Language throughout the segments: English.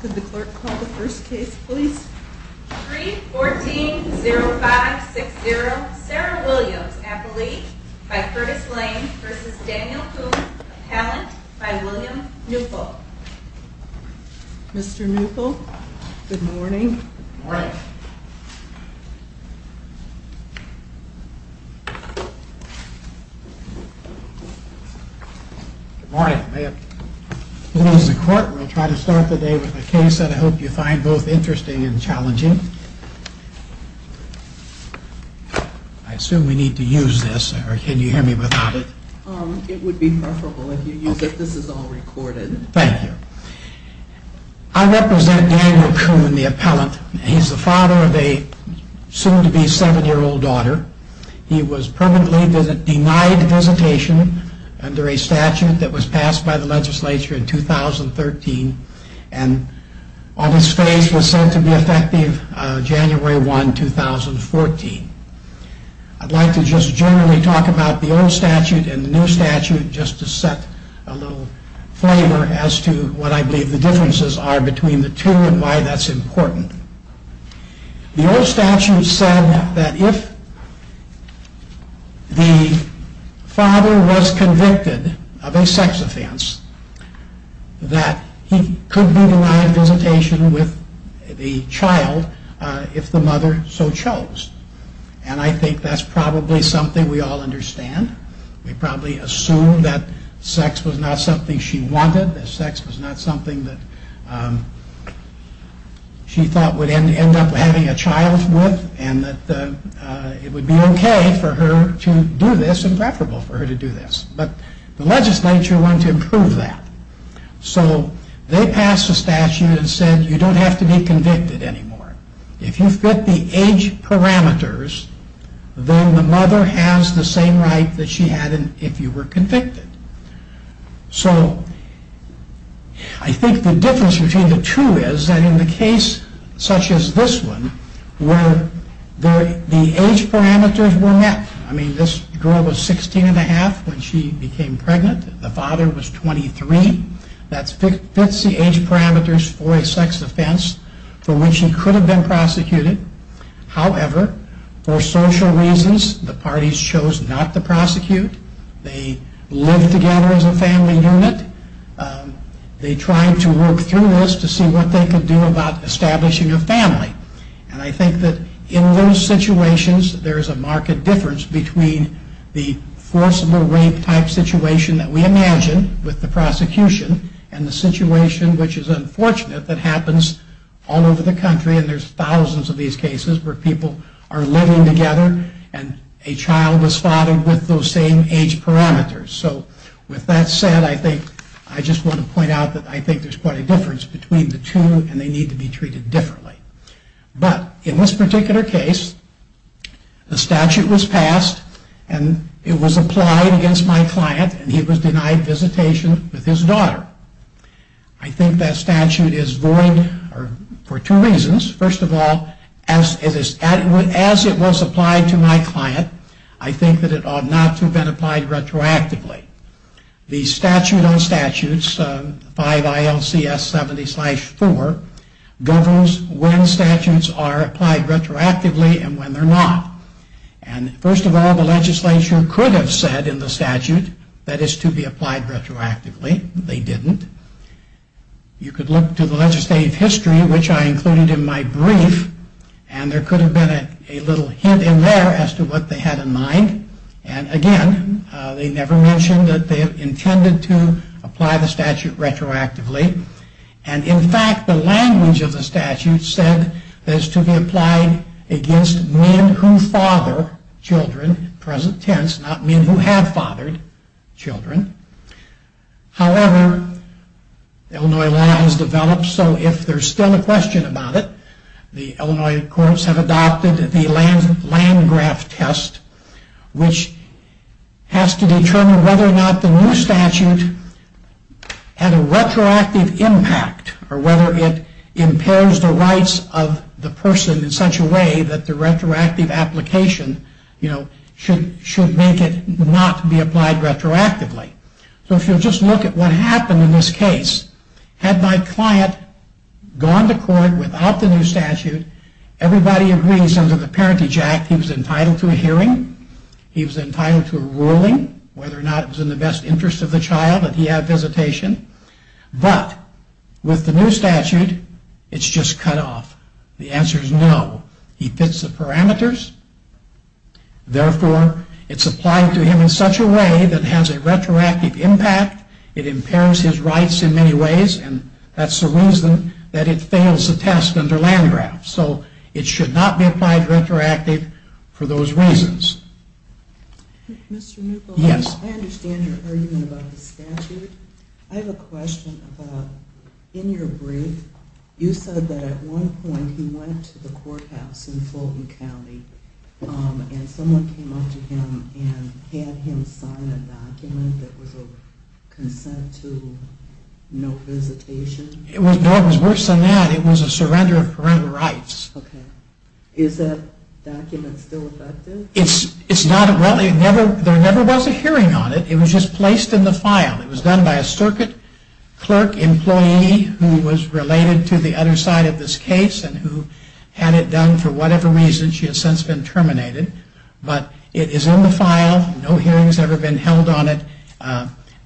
Could the clerk call the first case, please? 3-14-05-60 Sarah Williams, Appellee, by Curtis Lane v. Daniel Coon, Appellant, by William Neupel. Mr. Neupel, good morning. Good morning. Good morning. May it please the court, we'll try to start the day with a case that I hope you find both interesting and challenging. I assume we need to use this, or can you hear me without it? It would be preferable if you use it. This is all recorded. Thank you. I represent Daniel Coon, the appellant. He's the father of a soon-to-be seven-year-old daughter. He was permanently denied visitation under a statute that was passed by the legislature in 2013, and on his face was sent to be effective January 1, 2014. I'd like to just generally talk about the old statute and the new statute, just to set a little flavor as to what I believe the differences are between the two and why that's important. The old statute said that if the father was convicted of a sex offense, that he could be denied visitation with the child if the mother so chose. And I think that's probably something we all understand. We probably assume that sex was not something she wanted, that sex was not something that she thought would end up having a child with, and that it would be okay for her to do this and preferable for her to do this. But the legislature wanted to improve that. So they passed a statute that said you don't have to be convicted anymore. If you fit the age parameters, then the mother has the same right that she had if you were convicted. So I think the difference between the two is that in the case such as this one, where the age parameters were met, I mean this girl was 16 and a half when she became pregnant, the father was 23, that fits the age parameters for a sex offense for which she could have been prosecuted. However, for social reasons, the parties chose not to prosecute. They lived together as a family unit. They tried to work through this to see what they could do about establishing a family. And I think that in those situations, there's a marked difference between the forcible rape type situation that we imagine with the prosecution and the situation which is unfortunate that happens all over the country and there's thousands of these cases. But in this particular case, the statute was passed, and it was applied against my client, and he was denied visitation with his daughter. I think that statute is void for two reasons. First of all, as it was applied against my client, and he was denied visitation with his daughter. As it was applied to my client, I think that it ought not to have been applied retroactively. The statute on statutes, 5 ILCS 70-4, governs when statutes are applied retroactively and when they're not. And first of all, the legislature could have said in the statute that it's to be applied retroactively. They didn't. You could look to the legislative history, which I included in my brief, and there could have been a little hint in there as to what they had in mind. And again, they never mentioned that they intended to apply the statute retroactively. And in fact, the language of the statute said that it's to be applied against men who father children, present tense, not men who have fathered children. However, Illinois law has developed, so if there's still a question about it, the Illinois courts have adopted the Landgraf test, which has to determine whether or not the new statute had a retroactive effect. Or whether it impairs the rights of the person in such a way that the retroactive application, you know, should make it not be applied retroactively. So if you'll just look at what happened in this case. Had my client gone to court without the new statute, everybody agrees under the Parentage Act he was entitled to a hearing, he was entitled to a ruling, whether or not it was in the best interest of the child that he have visitation. But with the new statute, it's just cut off. The answer is no. He fits the parameters. Therefore, it's applied to him in such a way that has a retroactive impact, it impairs his rights in many ways, and that's the reason that it fails the test under Landgraf. So it should not be applied retroactively for those reasons. I understand your argument about the statute. I have a question about in your brief, you said that at one point he went to the courthouse in Fulton County and someone came up to him and had him sign a document that was a consent to no visitation. It was worse than that. It was a surrender of parental rights. Is that document still effective? It's not. There never was a hearing on it. It was just placed in the file. It was done by a circuit clerk employee who was related to the other side of this case and who had it done for whatever reason. She has since been terminated. But it is in the file. No hearing has ever been held on it.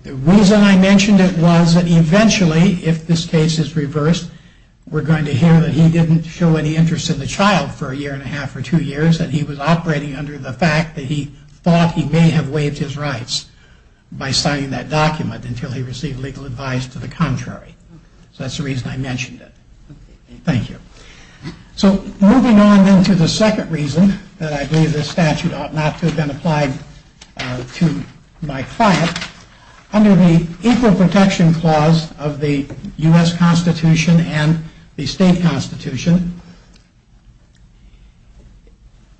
The reason I mentioned it was that eventually, if this case is reversed, we're going to hear that he didn't show any interest in the child for a year and a half or two years and he was operating under the fact that he thought he may have waived his rights by signing that document until he received legal advice to the contrary. So that's the reason I mentioned it. Thank you. So moving on then to the second reason that I believe this statute ought not to have been applied to my client. Under the Equal Protection Clause of the U.S. Constitution and the state constitution,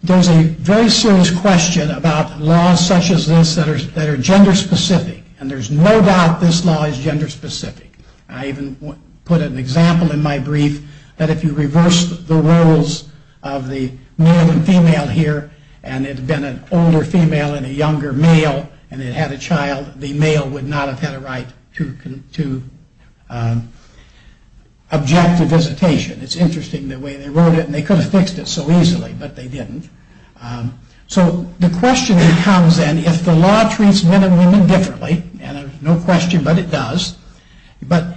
there's a very serious question about laws such as this that are gender specific. And there's no doubt this law is gender specific. I even put an example in my brief that if you reverse the roles of the male and female here and it had been an older female and a younger male and it had a child, the male would not have had a right to object to visitation. It's interesting the way they wrote it and they could have fixed it so easily, but they didn't. So the question becomes then if the law treats men and women differently, and there's no question but it does, but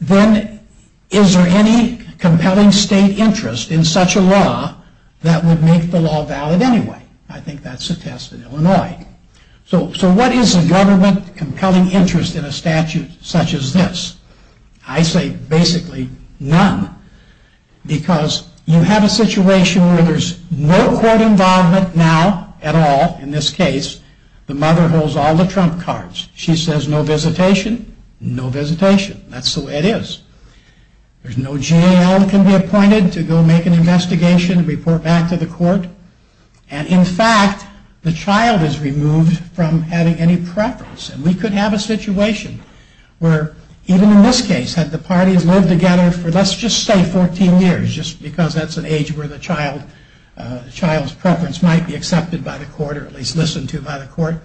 then is there any compelling state interest in such a law that would make the law valid anyway? I think that's a test in Illinois. So what is a government compelling interest in a statute such as this? I say basically none. Because you have a situation where there's no court involvement now at all in this case. The mother holds all the trump cards. She says no visitation. No visitation. That's the way it is. There's no jail that can be appointed to go make an investigation and report back to the court. And in fact, the child is removed from having any preference. And we could have a situation where even in this case had the parties lived together for let's just say 14 years, just because that's an age where the child's preference might be accepted by the court or at least listened to by the court.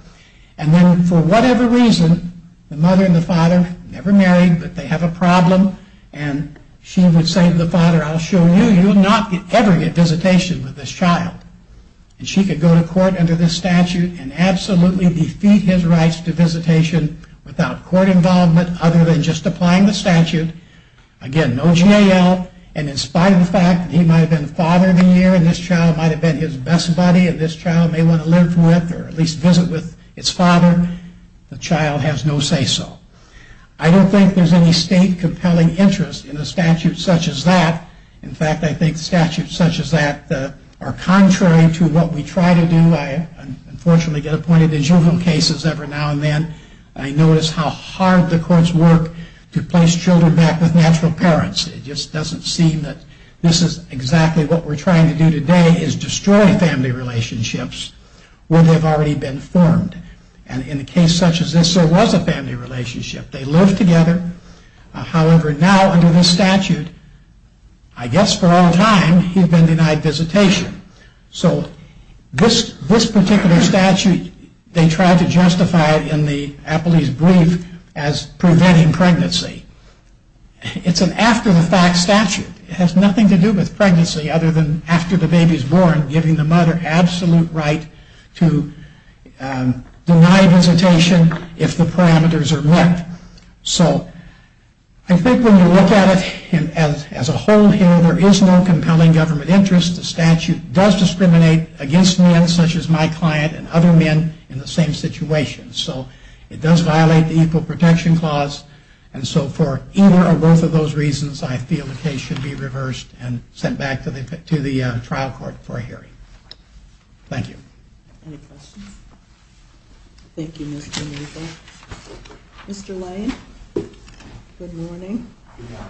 And then for whatever reason, the mother and the father never married, but they have a problem. And she would say to the father, I'll show you, you will not ever get visitation with this child. And she could go to court under this statute and absolutely defeat his rights to visitation without court involvement other than just applying the statute. Again, no jail. And in spite of the fact that he might have been the father of the year and this child might have been his best buddy and this child may want to live with or at least visit with its father, the child has no say so. I don't think there's any state compelling interest in a statute such as that. In fact, I think statutes such as that are contrary to what we try to do. I unfortunately get appointed to juvenile cases every now and then. I notice how hard the courts work to place children back with natural parents. It just doesn't seem that this is exactly what we're trying to do today is destroy family relationships where they've already been formed. And in a case such as this, there was a family relationship. They lived together. However, now under this statute, I guess for all time, he's been denied visitation. So this particular statute, they tried to justify it in the appellee's brief as preventing pregnancy. It's an after-the-fact statute. It has nothing to do with pregnancy other than after the baby is born, giving the mother absolute right to deny visitation if the parameters are met. So I think when you look at it as a whole here, there is no compelling government interest. The statute does discriminate against men such as my client and other men in the same situation. So it does violate the Equal Protection Clause. And so for either or both of those reasons, I feel the case should be reversed and sent back to the trial court for a hearing. Thank you. Any questions? Thank you, Mr. Neupel. Mr. Lyon, good morning. Good morning.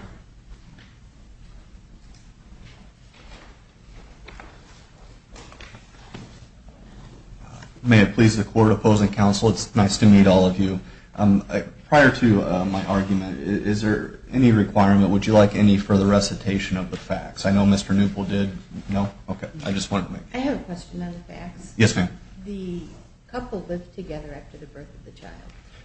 May it please the court, opposing counsel, it's nice to meet all of you. Prior to my argument, is there any requirement, would you like any further recitation of the facts? I know Mr. Neupel did. No? Okay. I just wanted to make sure. I have a question on the facts. Yes, ma'am. The couple lived together after the birth of the child.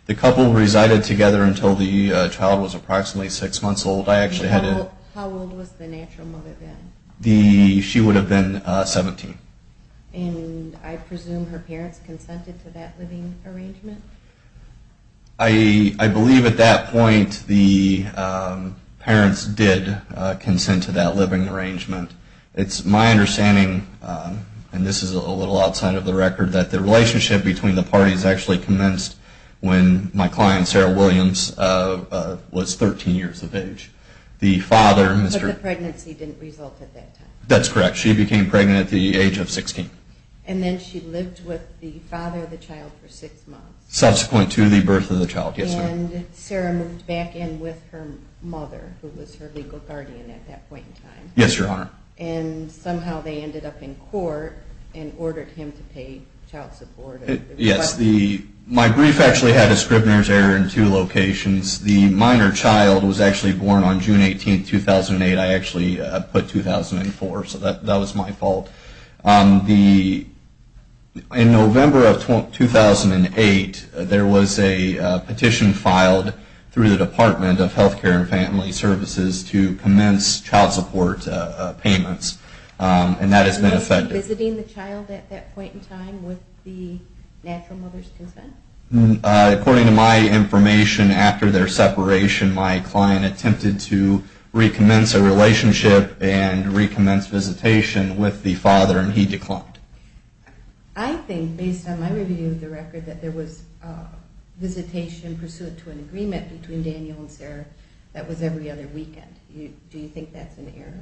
The couple resided together until the child was approximately six months old. How old was the natural mother then? She would have been 17. And I presume her parents consented to that living arrangement? I believe at that point the parents did consent to that living arrangement. It's my understanding, and this is a little outside of the record, that the relationship between the parties actually commenced when my client, Sarah Williams, was 13 years of age. But the pregnancy didn't result at that time? That's correct. She became pregnant at the age of 16. And then she lived with the father of the child for six months? Subsequent to the birth of the child, yes, ma'am. And Sarah moved back in with her mother, who was her legal guardian at that point in time? Yes, Your Honor. And somehow they ended up in court and ordered him to pay child support? Yes. My brief actually had a scrivener's error in two locations. The minor child was actually born on June 18, 2008. I actually put 2004, so that was my fault. In November of 2008, there was a petition filed through the Department of Health Care and Family Services to commence child support payments, and that has been affected. Was the mother visiting the child at that point in time with the natural mother's consent? According to my information, after their separation, my client attempted to recommence a relationship and recommence visitation with the father, and he declined. I think, based on my review of the record, that there was visitation pursuant to an agreement between Daniel and Sarah that was every other weekend. Do you think that's an error?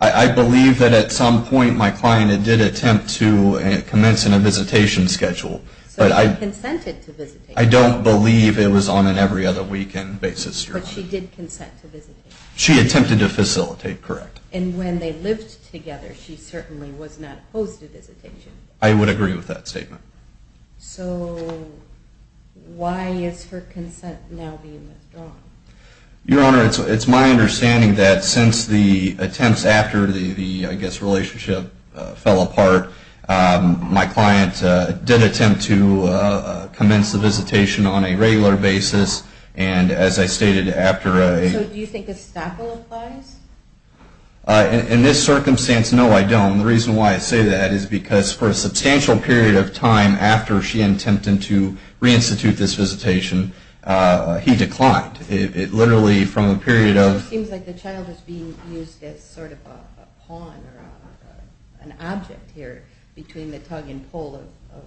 I believe that at some point my client did attempt to commence in a visitation schedule. So she consented to visitation? I don't believe it was on an every-other-weekend basis, Your Honor. But she did consent to visitation? She attempted to facilitate, correct. And when they lived together, she certainly was not opposed to visitation? I would agree with that statement. So why is her consent now being withdrawn? Your Honor, it's my understanding that since the attempts after the, I guess, relationship fell apart, my client did attempt to commence the visitation on a regular basis, and as I stated, after a... So do you think estoppel applies? In this circumstance, no, I don't. The reason why I say that is because for a substantial period of time after she attempted to reinstitute this visitation, he declined. It literally, from a period of... It seems like the child is being used as sort of a pawn or an object here between the tug and pull of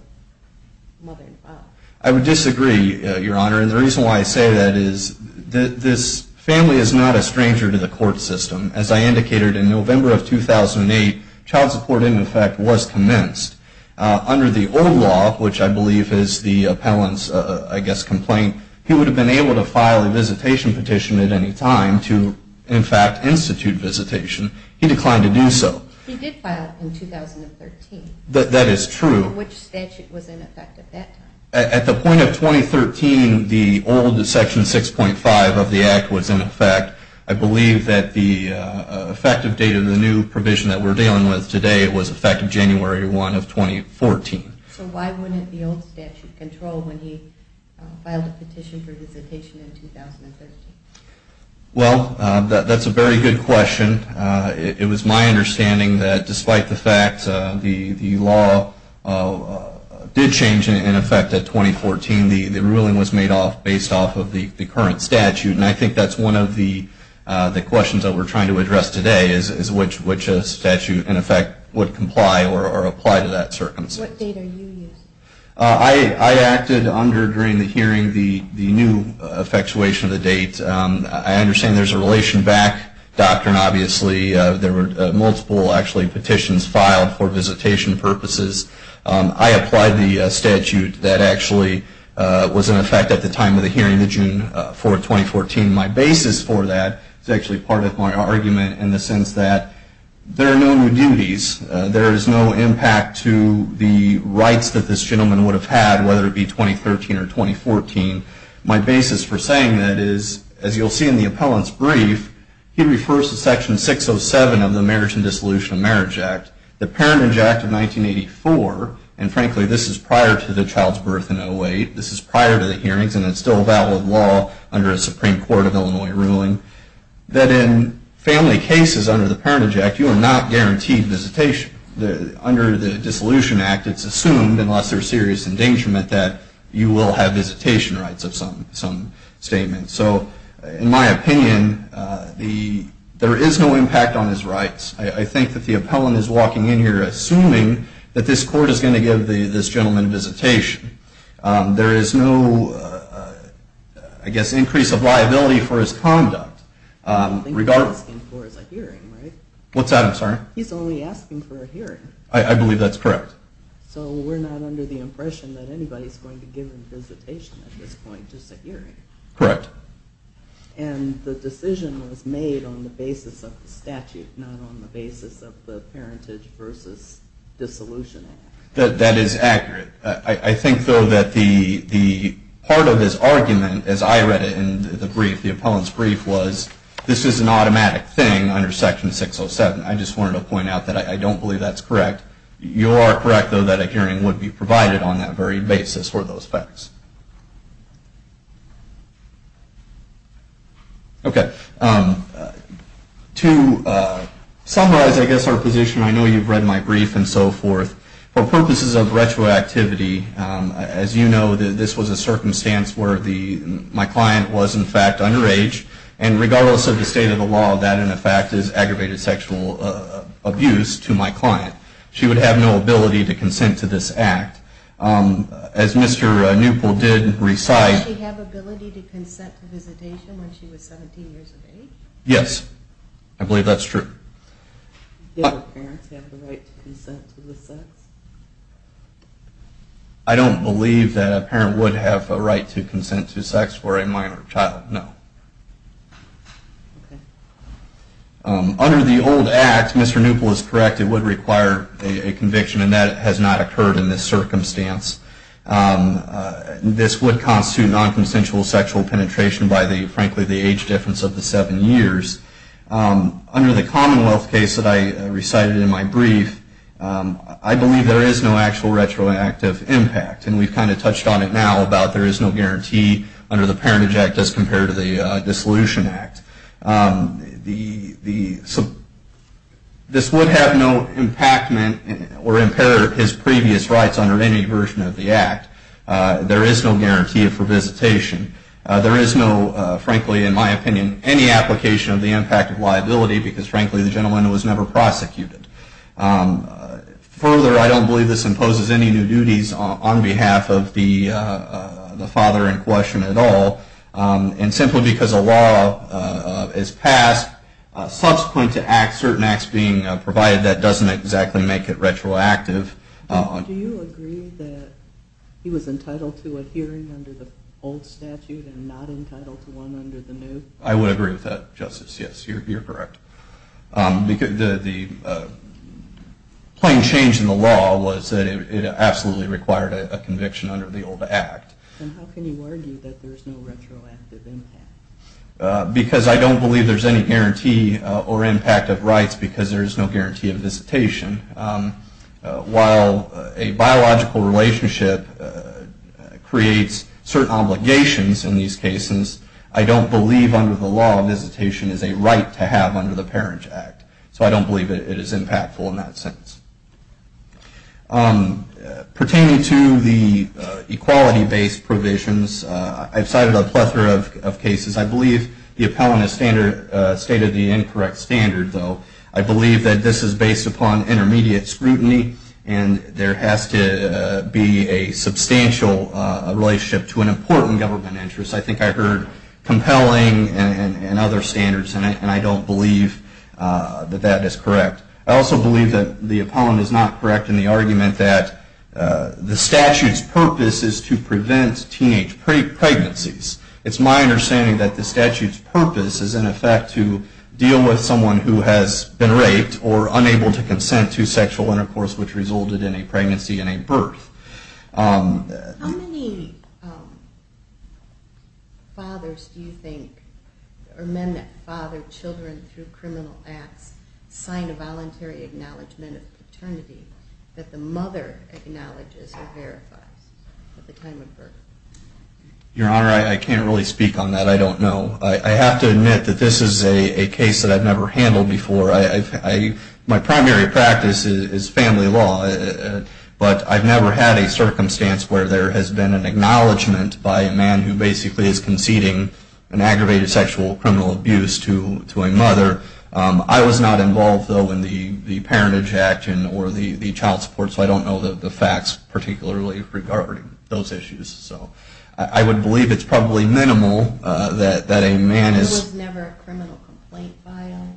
mother and father. I would disagree, Your Honor. And the reason why I say that is that this family is not a stranger to the court system. As I indicated, in November of 2008, child support, in effect, was commenced. Under the old law, which I believe is the appellant's, I guess, complaint, he would have been able to file a visitation petition at any time to, in fact, institute visitation. He declined to do so. He did file it in 2013. That is true. Which statute was in effect at that time? At the point of 2013, the old Section 6.5 of the Act was in effect. I believe that the effective date of the new provision that we're dealing with today was effective January 1 of 2014. So why wouldn't the old statute control when he filed a petition for visitation in 2013? Well, that's a very good question. It was my understanding that despite the fact the law did change, in effect, at 2014, the ruling was made based off of the current statute. And I think that's one of the questions that we're trying to address today, is which statute, in effect, would comply or apply to that circumstance. What date are you using? I acted under, during the hearing, the new effectuation of the date. I understand there's a relation back doctrine, obviously. There were multiple, actually, petitions filed for visitation purposes. I applied the statute that actually was in effect at the time of the hearing, the June 4, 2014. My basis for that is actually part of my argument in the sense that there are no new duties. There is no impact to the rights that this gentleman would have had, whether it be 2013 or 2014. My basis for saying that is, as you'll see in the appellant's brief, he refers to Section 607 of the Marriage and Dissolution of Marriage Act, the Parentage Act of 1984. And frankly, this is prior to the child's birth in 08. This is prior to the hearings, and it's still a valid law under a Supreme Court of Illinois ruling, that in family cases under the Parentage Act, you are not guaranteed visitation. Under the Dissolution Act, it's assumed, unless there's serious endangerment, that you will have visitation rights of some statement. So in my opinion, there is no impact on his rights. I think that the appellant is walking in here assuming that this court is going to give this gentleman visitation. There is no, I guess, increase of liability for his conduct. What he's asking for is a hearing, right? What's that? I'm sorry? He's only asking for a hearing. I believe that's correct. So we're not under the impression that anybody's going to give him visitation at this point. Just a hearing. Correct. And the decision was made on the basis of the statute, not on the basis of the Parentage versus Dissolution Act. That is accurate. I think, though, that the part of his argument, as I read it in the brief, the appellant's brief, was this is an automatic thing under Section 607. I just wanted to point out that I don't believe that's correct. You are correct, though, that a hearing would be provided on that very basis for those facts. Okay. To summarize, I guess, our position, I know you've read my brief and so forth. For purposes of retroactivity, as you know, this was a circumstance where my client was, in fact, underage. And regardless of the state of the law, that, in effect, is aggravated sexual abuse to my client. She would have no ability to consent to this act. As Mr. Newpoll did recite- Did she have ability to consent to visitation when she was 17 years of age? Yes. I believe that's true. Did her parents have the right to consent to the sex? I don't believe that a parent would have a right to consent to sex for a minor child, no. Okay. Under the old act, Mr. Newpoll is correct, it would require a conviction, and that has not occurred in this circumstance. This would constitute non-consensual sexual penetration by, frankly, the age difference of the seven years. Under the Commonwealth case that I recited in my brief, I believe there is no actual retroactive impact. And we've kind of touched on it now about there is no guarantee under the Parentage Act as compared to the Dissolution Act. This would have no impact or impair his previous rights under any version of the act. There is no guarantee for visitation. There is no, frankly, in my opinion, any application of the impact of liability because, frankly, the gentleman was never prosecuted. Further, I don't believe this imposes any new duties on behalf of the father in question at all. And simply because a law is passed subsequent to certain acts being provided, that doesn't exactly make it retroactive. Do you agree that he was entitled to a hearing under the old statute and not entitled to one under the new? I would agree with that, Justice, yes, you're correct. The plain change in the law was that it absolutely required a conviction under the old act. Then how can you argue that there is no retroactive impact? Because I don't believe there is any guarantee or impact of rights because there is no guarantee of visitation. While a biological relationship creates certain obligations in these cases, I don't believe under the law visitation is a right to have under the Parent Act. So I don't believe it is impactful in that sense. Pertaining to the equality-based provisions, I've cited a plethora of cases. I believe the appellant is state of the incorrect standard, though. I believe that this is based upon intermediate scrutiny, and there has to be a substantial relationship to an important government interest. I think I heard compelling and other standards in it, and I don't believe that that is correct. I also believe that the appellant is not correct in the argument that the statute's purpose is to prevent teenage pregnancies. It's my understanding that the statute's purpose is in effect to deal with someone who has been raped or unable to consent to sexual intercourse which resulted in a pregnancy and a birth. How many fathers do you think or men that father children through criminal acts sign a voluntary acknowledgement of paternity that the mother acknowledges or verifies at the time of birth? Your Honor, I can't really speak on that. I don't know. I have to admit that this is a case that I've never handled before. My primary practice is family law, but I've never had a circumstance where there has been an acknowledgement by a man who basically is conceding an aggravated sexual or criminal abuse to a mother. I was not involved, though, in the parentage action or the child support, so I don't know the facts particularly regarding those issues. So I would believe it's probably minimal that a man is... There was never a criminal complaint filed?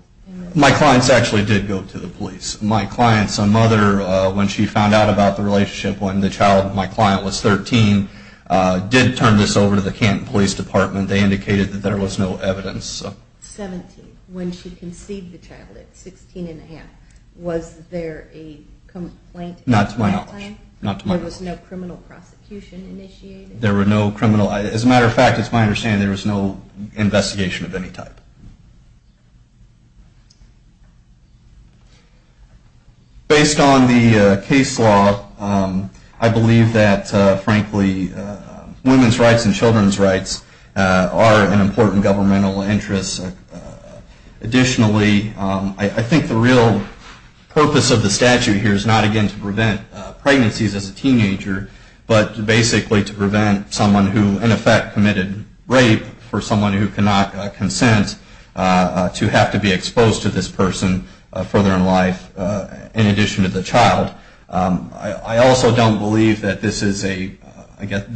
My clients actually did go to the police. My client's mother, when she found out about the relationship when my client was 13, did turn this over to the Canton Police Department. They indicated that there was no evidence. When she conceived the child at 16 and a half, was there a complaint at that time? Not to my knowledge. There was no criminal prosecution initiated? There were no criminal... As a matter of fact, it's my understanding there was no investigation of any type. Based on the case law, I believe that, frankly, women's rights and children's rights are an important governmental interest. Additionally, I think the real purpose of the statute here is not, again, to prevent pregnancies as a teenager, but basically to prevent someone who, in effect, committed rape for someone who cannot consent to have to be exposed to this person further in life, in addition to the child. I also don't believe that this is a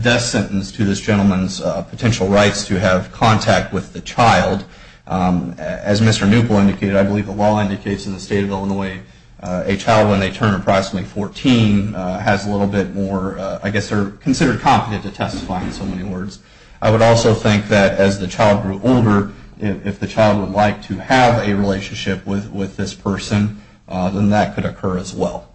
death sentence to this gentleman's potential rights to have contact with the child. As Mr. Newple indicated, I believe the law indicates in the state of Illinois, a child when they turn approximately 14 has a little bit more... I guess they're considered competent to testify, in so many words. I would also think that, as the child grew older, if the child would like to have a relationship with this person, then that could occur as well.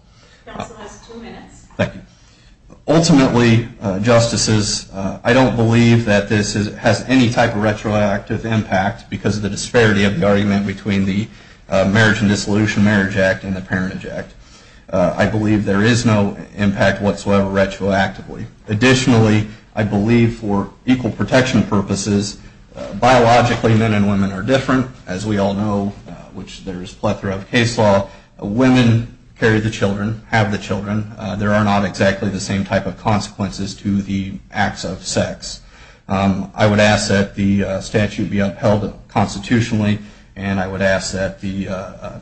Ultimately, Justices, I don't believe that this has any type of retroactive impact because of the disparity of the argument between the Marriage and Dissolution Marriage Act and the Parentage Act. I believe there is no impact whatsoever retroactively. Additionally, I believe for equal protection purposes, biologically men and women are different, as we all know, which there is a plethora of case law. Women carry the children, have the children. There are not exactly the same type of consequences to the acts of sex. I would ask that the statute be upheld constitutionally, and I would ask that the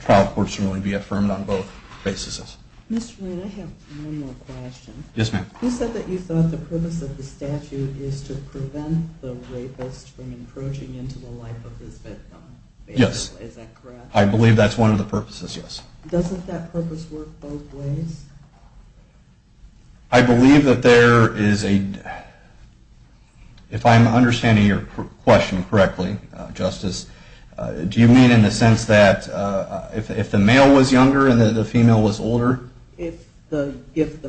trial courts really be affirmed on both bases. Mr. Reed, I have one more question. Yes, ma'am. You said that you thought the purpose of the statute is to prevent the rapist from encroaching into the life of his victim. Yes. Is that correct? I believe that's one of the purposes, yes. Doesn't that purpose work both ways? I believe that there is a... If I'm understanding your question correctly, Justice, do you mean in the sense that if the male was younger and the female was older? If the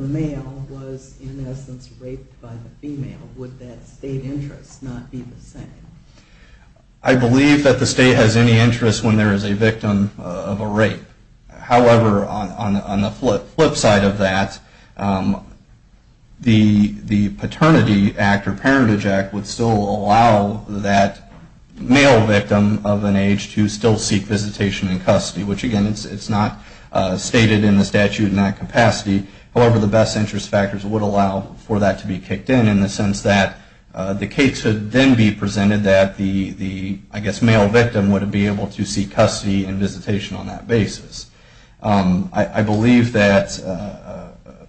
male was, in essence, raped by the female, would that state interest not be the same? I believe that the state has any interest when there is a victim of a rape. However, on the flip side of that, the Paternity Act or Parentage Act would still allow that male victim of an age to still seek visitation in custody, which, again, it's not stated in the statute in that capacity. However, the best interest factors would allow for that to be kicked in in the case would then be presented that the, I guess, male victim would be able to seek custody and visitation on that basis. I believe that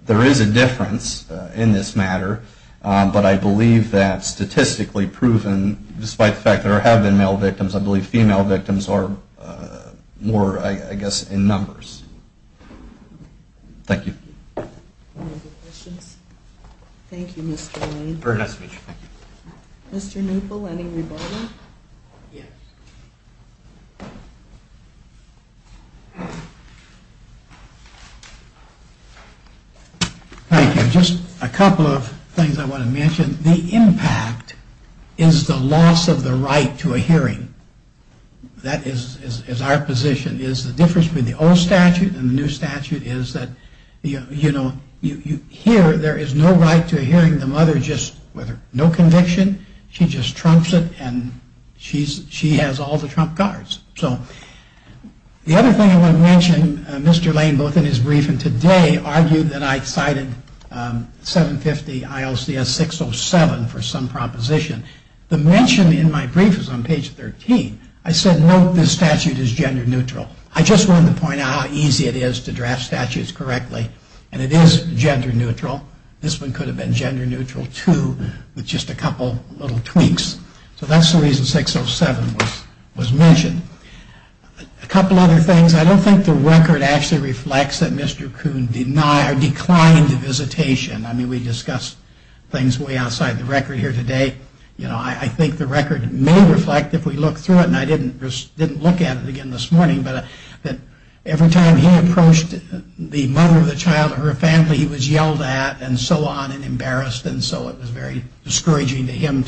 there is a difference in this matter, but I believe that statistically proven, despite the fact that there have been male victims, I believe female victims are more, I guess, in numbers. Thank you. Any other questions? Thank you, Mr. Lane. Mr. Neupel, any rebuttal? Yes. Thank you. Just a couple of things I want to mention. The impact is the loss of the right to a hearing. That is our position. The difference between the old statute and the new statute is that, you know, you hear there is no right to a hearing. The mother just, with no conviction, she just trumps it, and she has all the trump cards. So the other thing I want to mention, Mr. Lane, both in his brief and today, argued that I cited 750 ILCS 607 for some proposition. The mention in my brief is on page 13. I said, no, this statute is gender neutral. I just wanted to point out how easy it is to draft statutes correctly, and it is gender neutral. This one could have been gender neutral, too, with just a couple little tweaks. So that's the reason 607 was mentioned. A couple other things. I don't think the record actually reflects that Mr. Kuhn declined visitation. I mean, we discussed things way outside the record here today. You know, I think the record may reflect, if we look through it, and I didn't look at it again this morning, but every time he approached the mother of the child or her family, he was yelled at and so on and embarrassed, and so it was very discouraging to him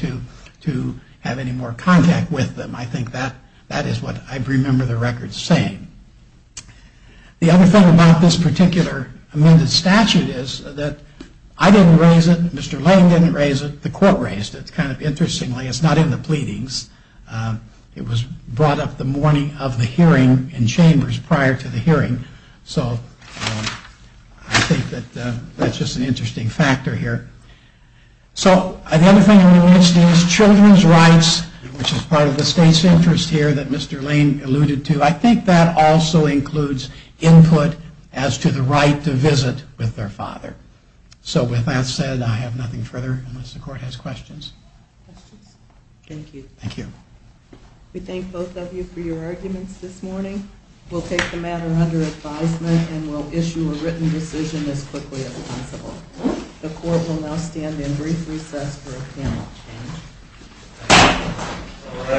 to have any more contact with them. I think that is what I remember the record saying. The other thing about this particular amended statute is that I didn't raise it, Mr. Lane didn't raise it, the court raised it. Kind of interestingly, it's not in the pleadings. It was brought up the morning of the hearing in chambers prior to the hearing. So I think that that's just an interesting factor here. So the other thing we missed is children's rights, which is part of the state's interest here that Mr. Lane alluded to. I think that also includes input as to the right to visit with their father. So with that said, I have nothing further, unless the court has questions. Questions? Thank you. Thank you. We thank both of you for your arguments this morning. We'll take the matter under advisement and we'll issue a written decision as quickly as possible. The court will now stand in brief recess for a panel change.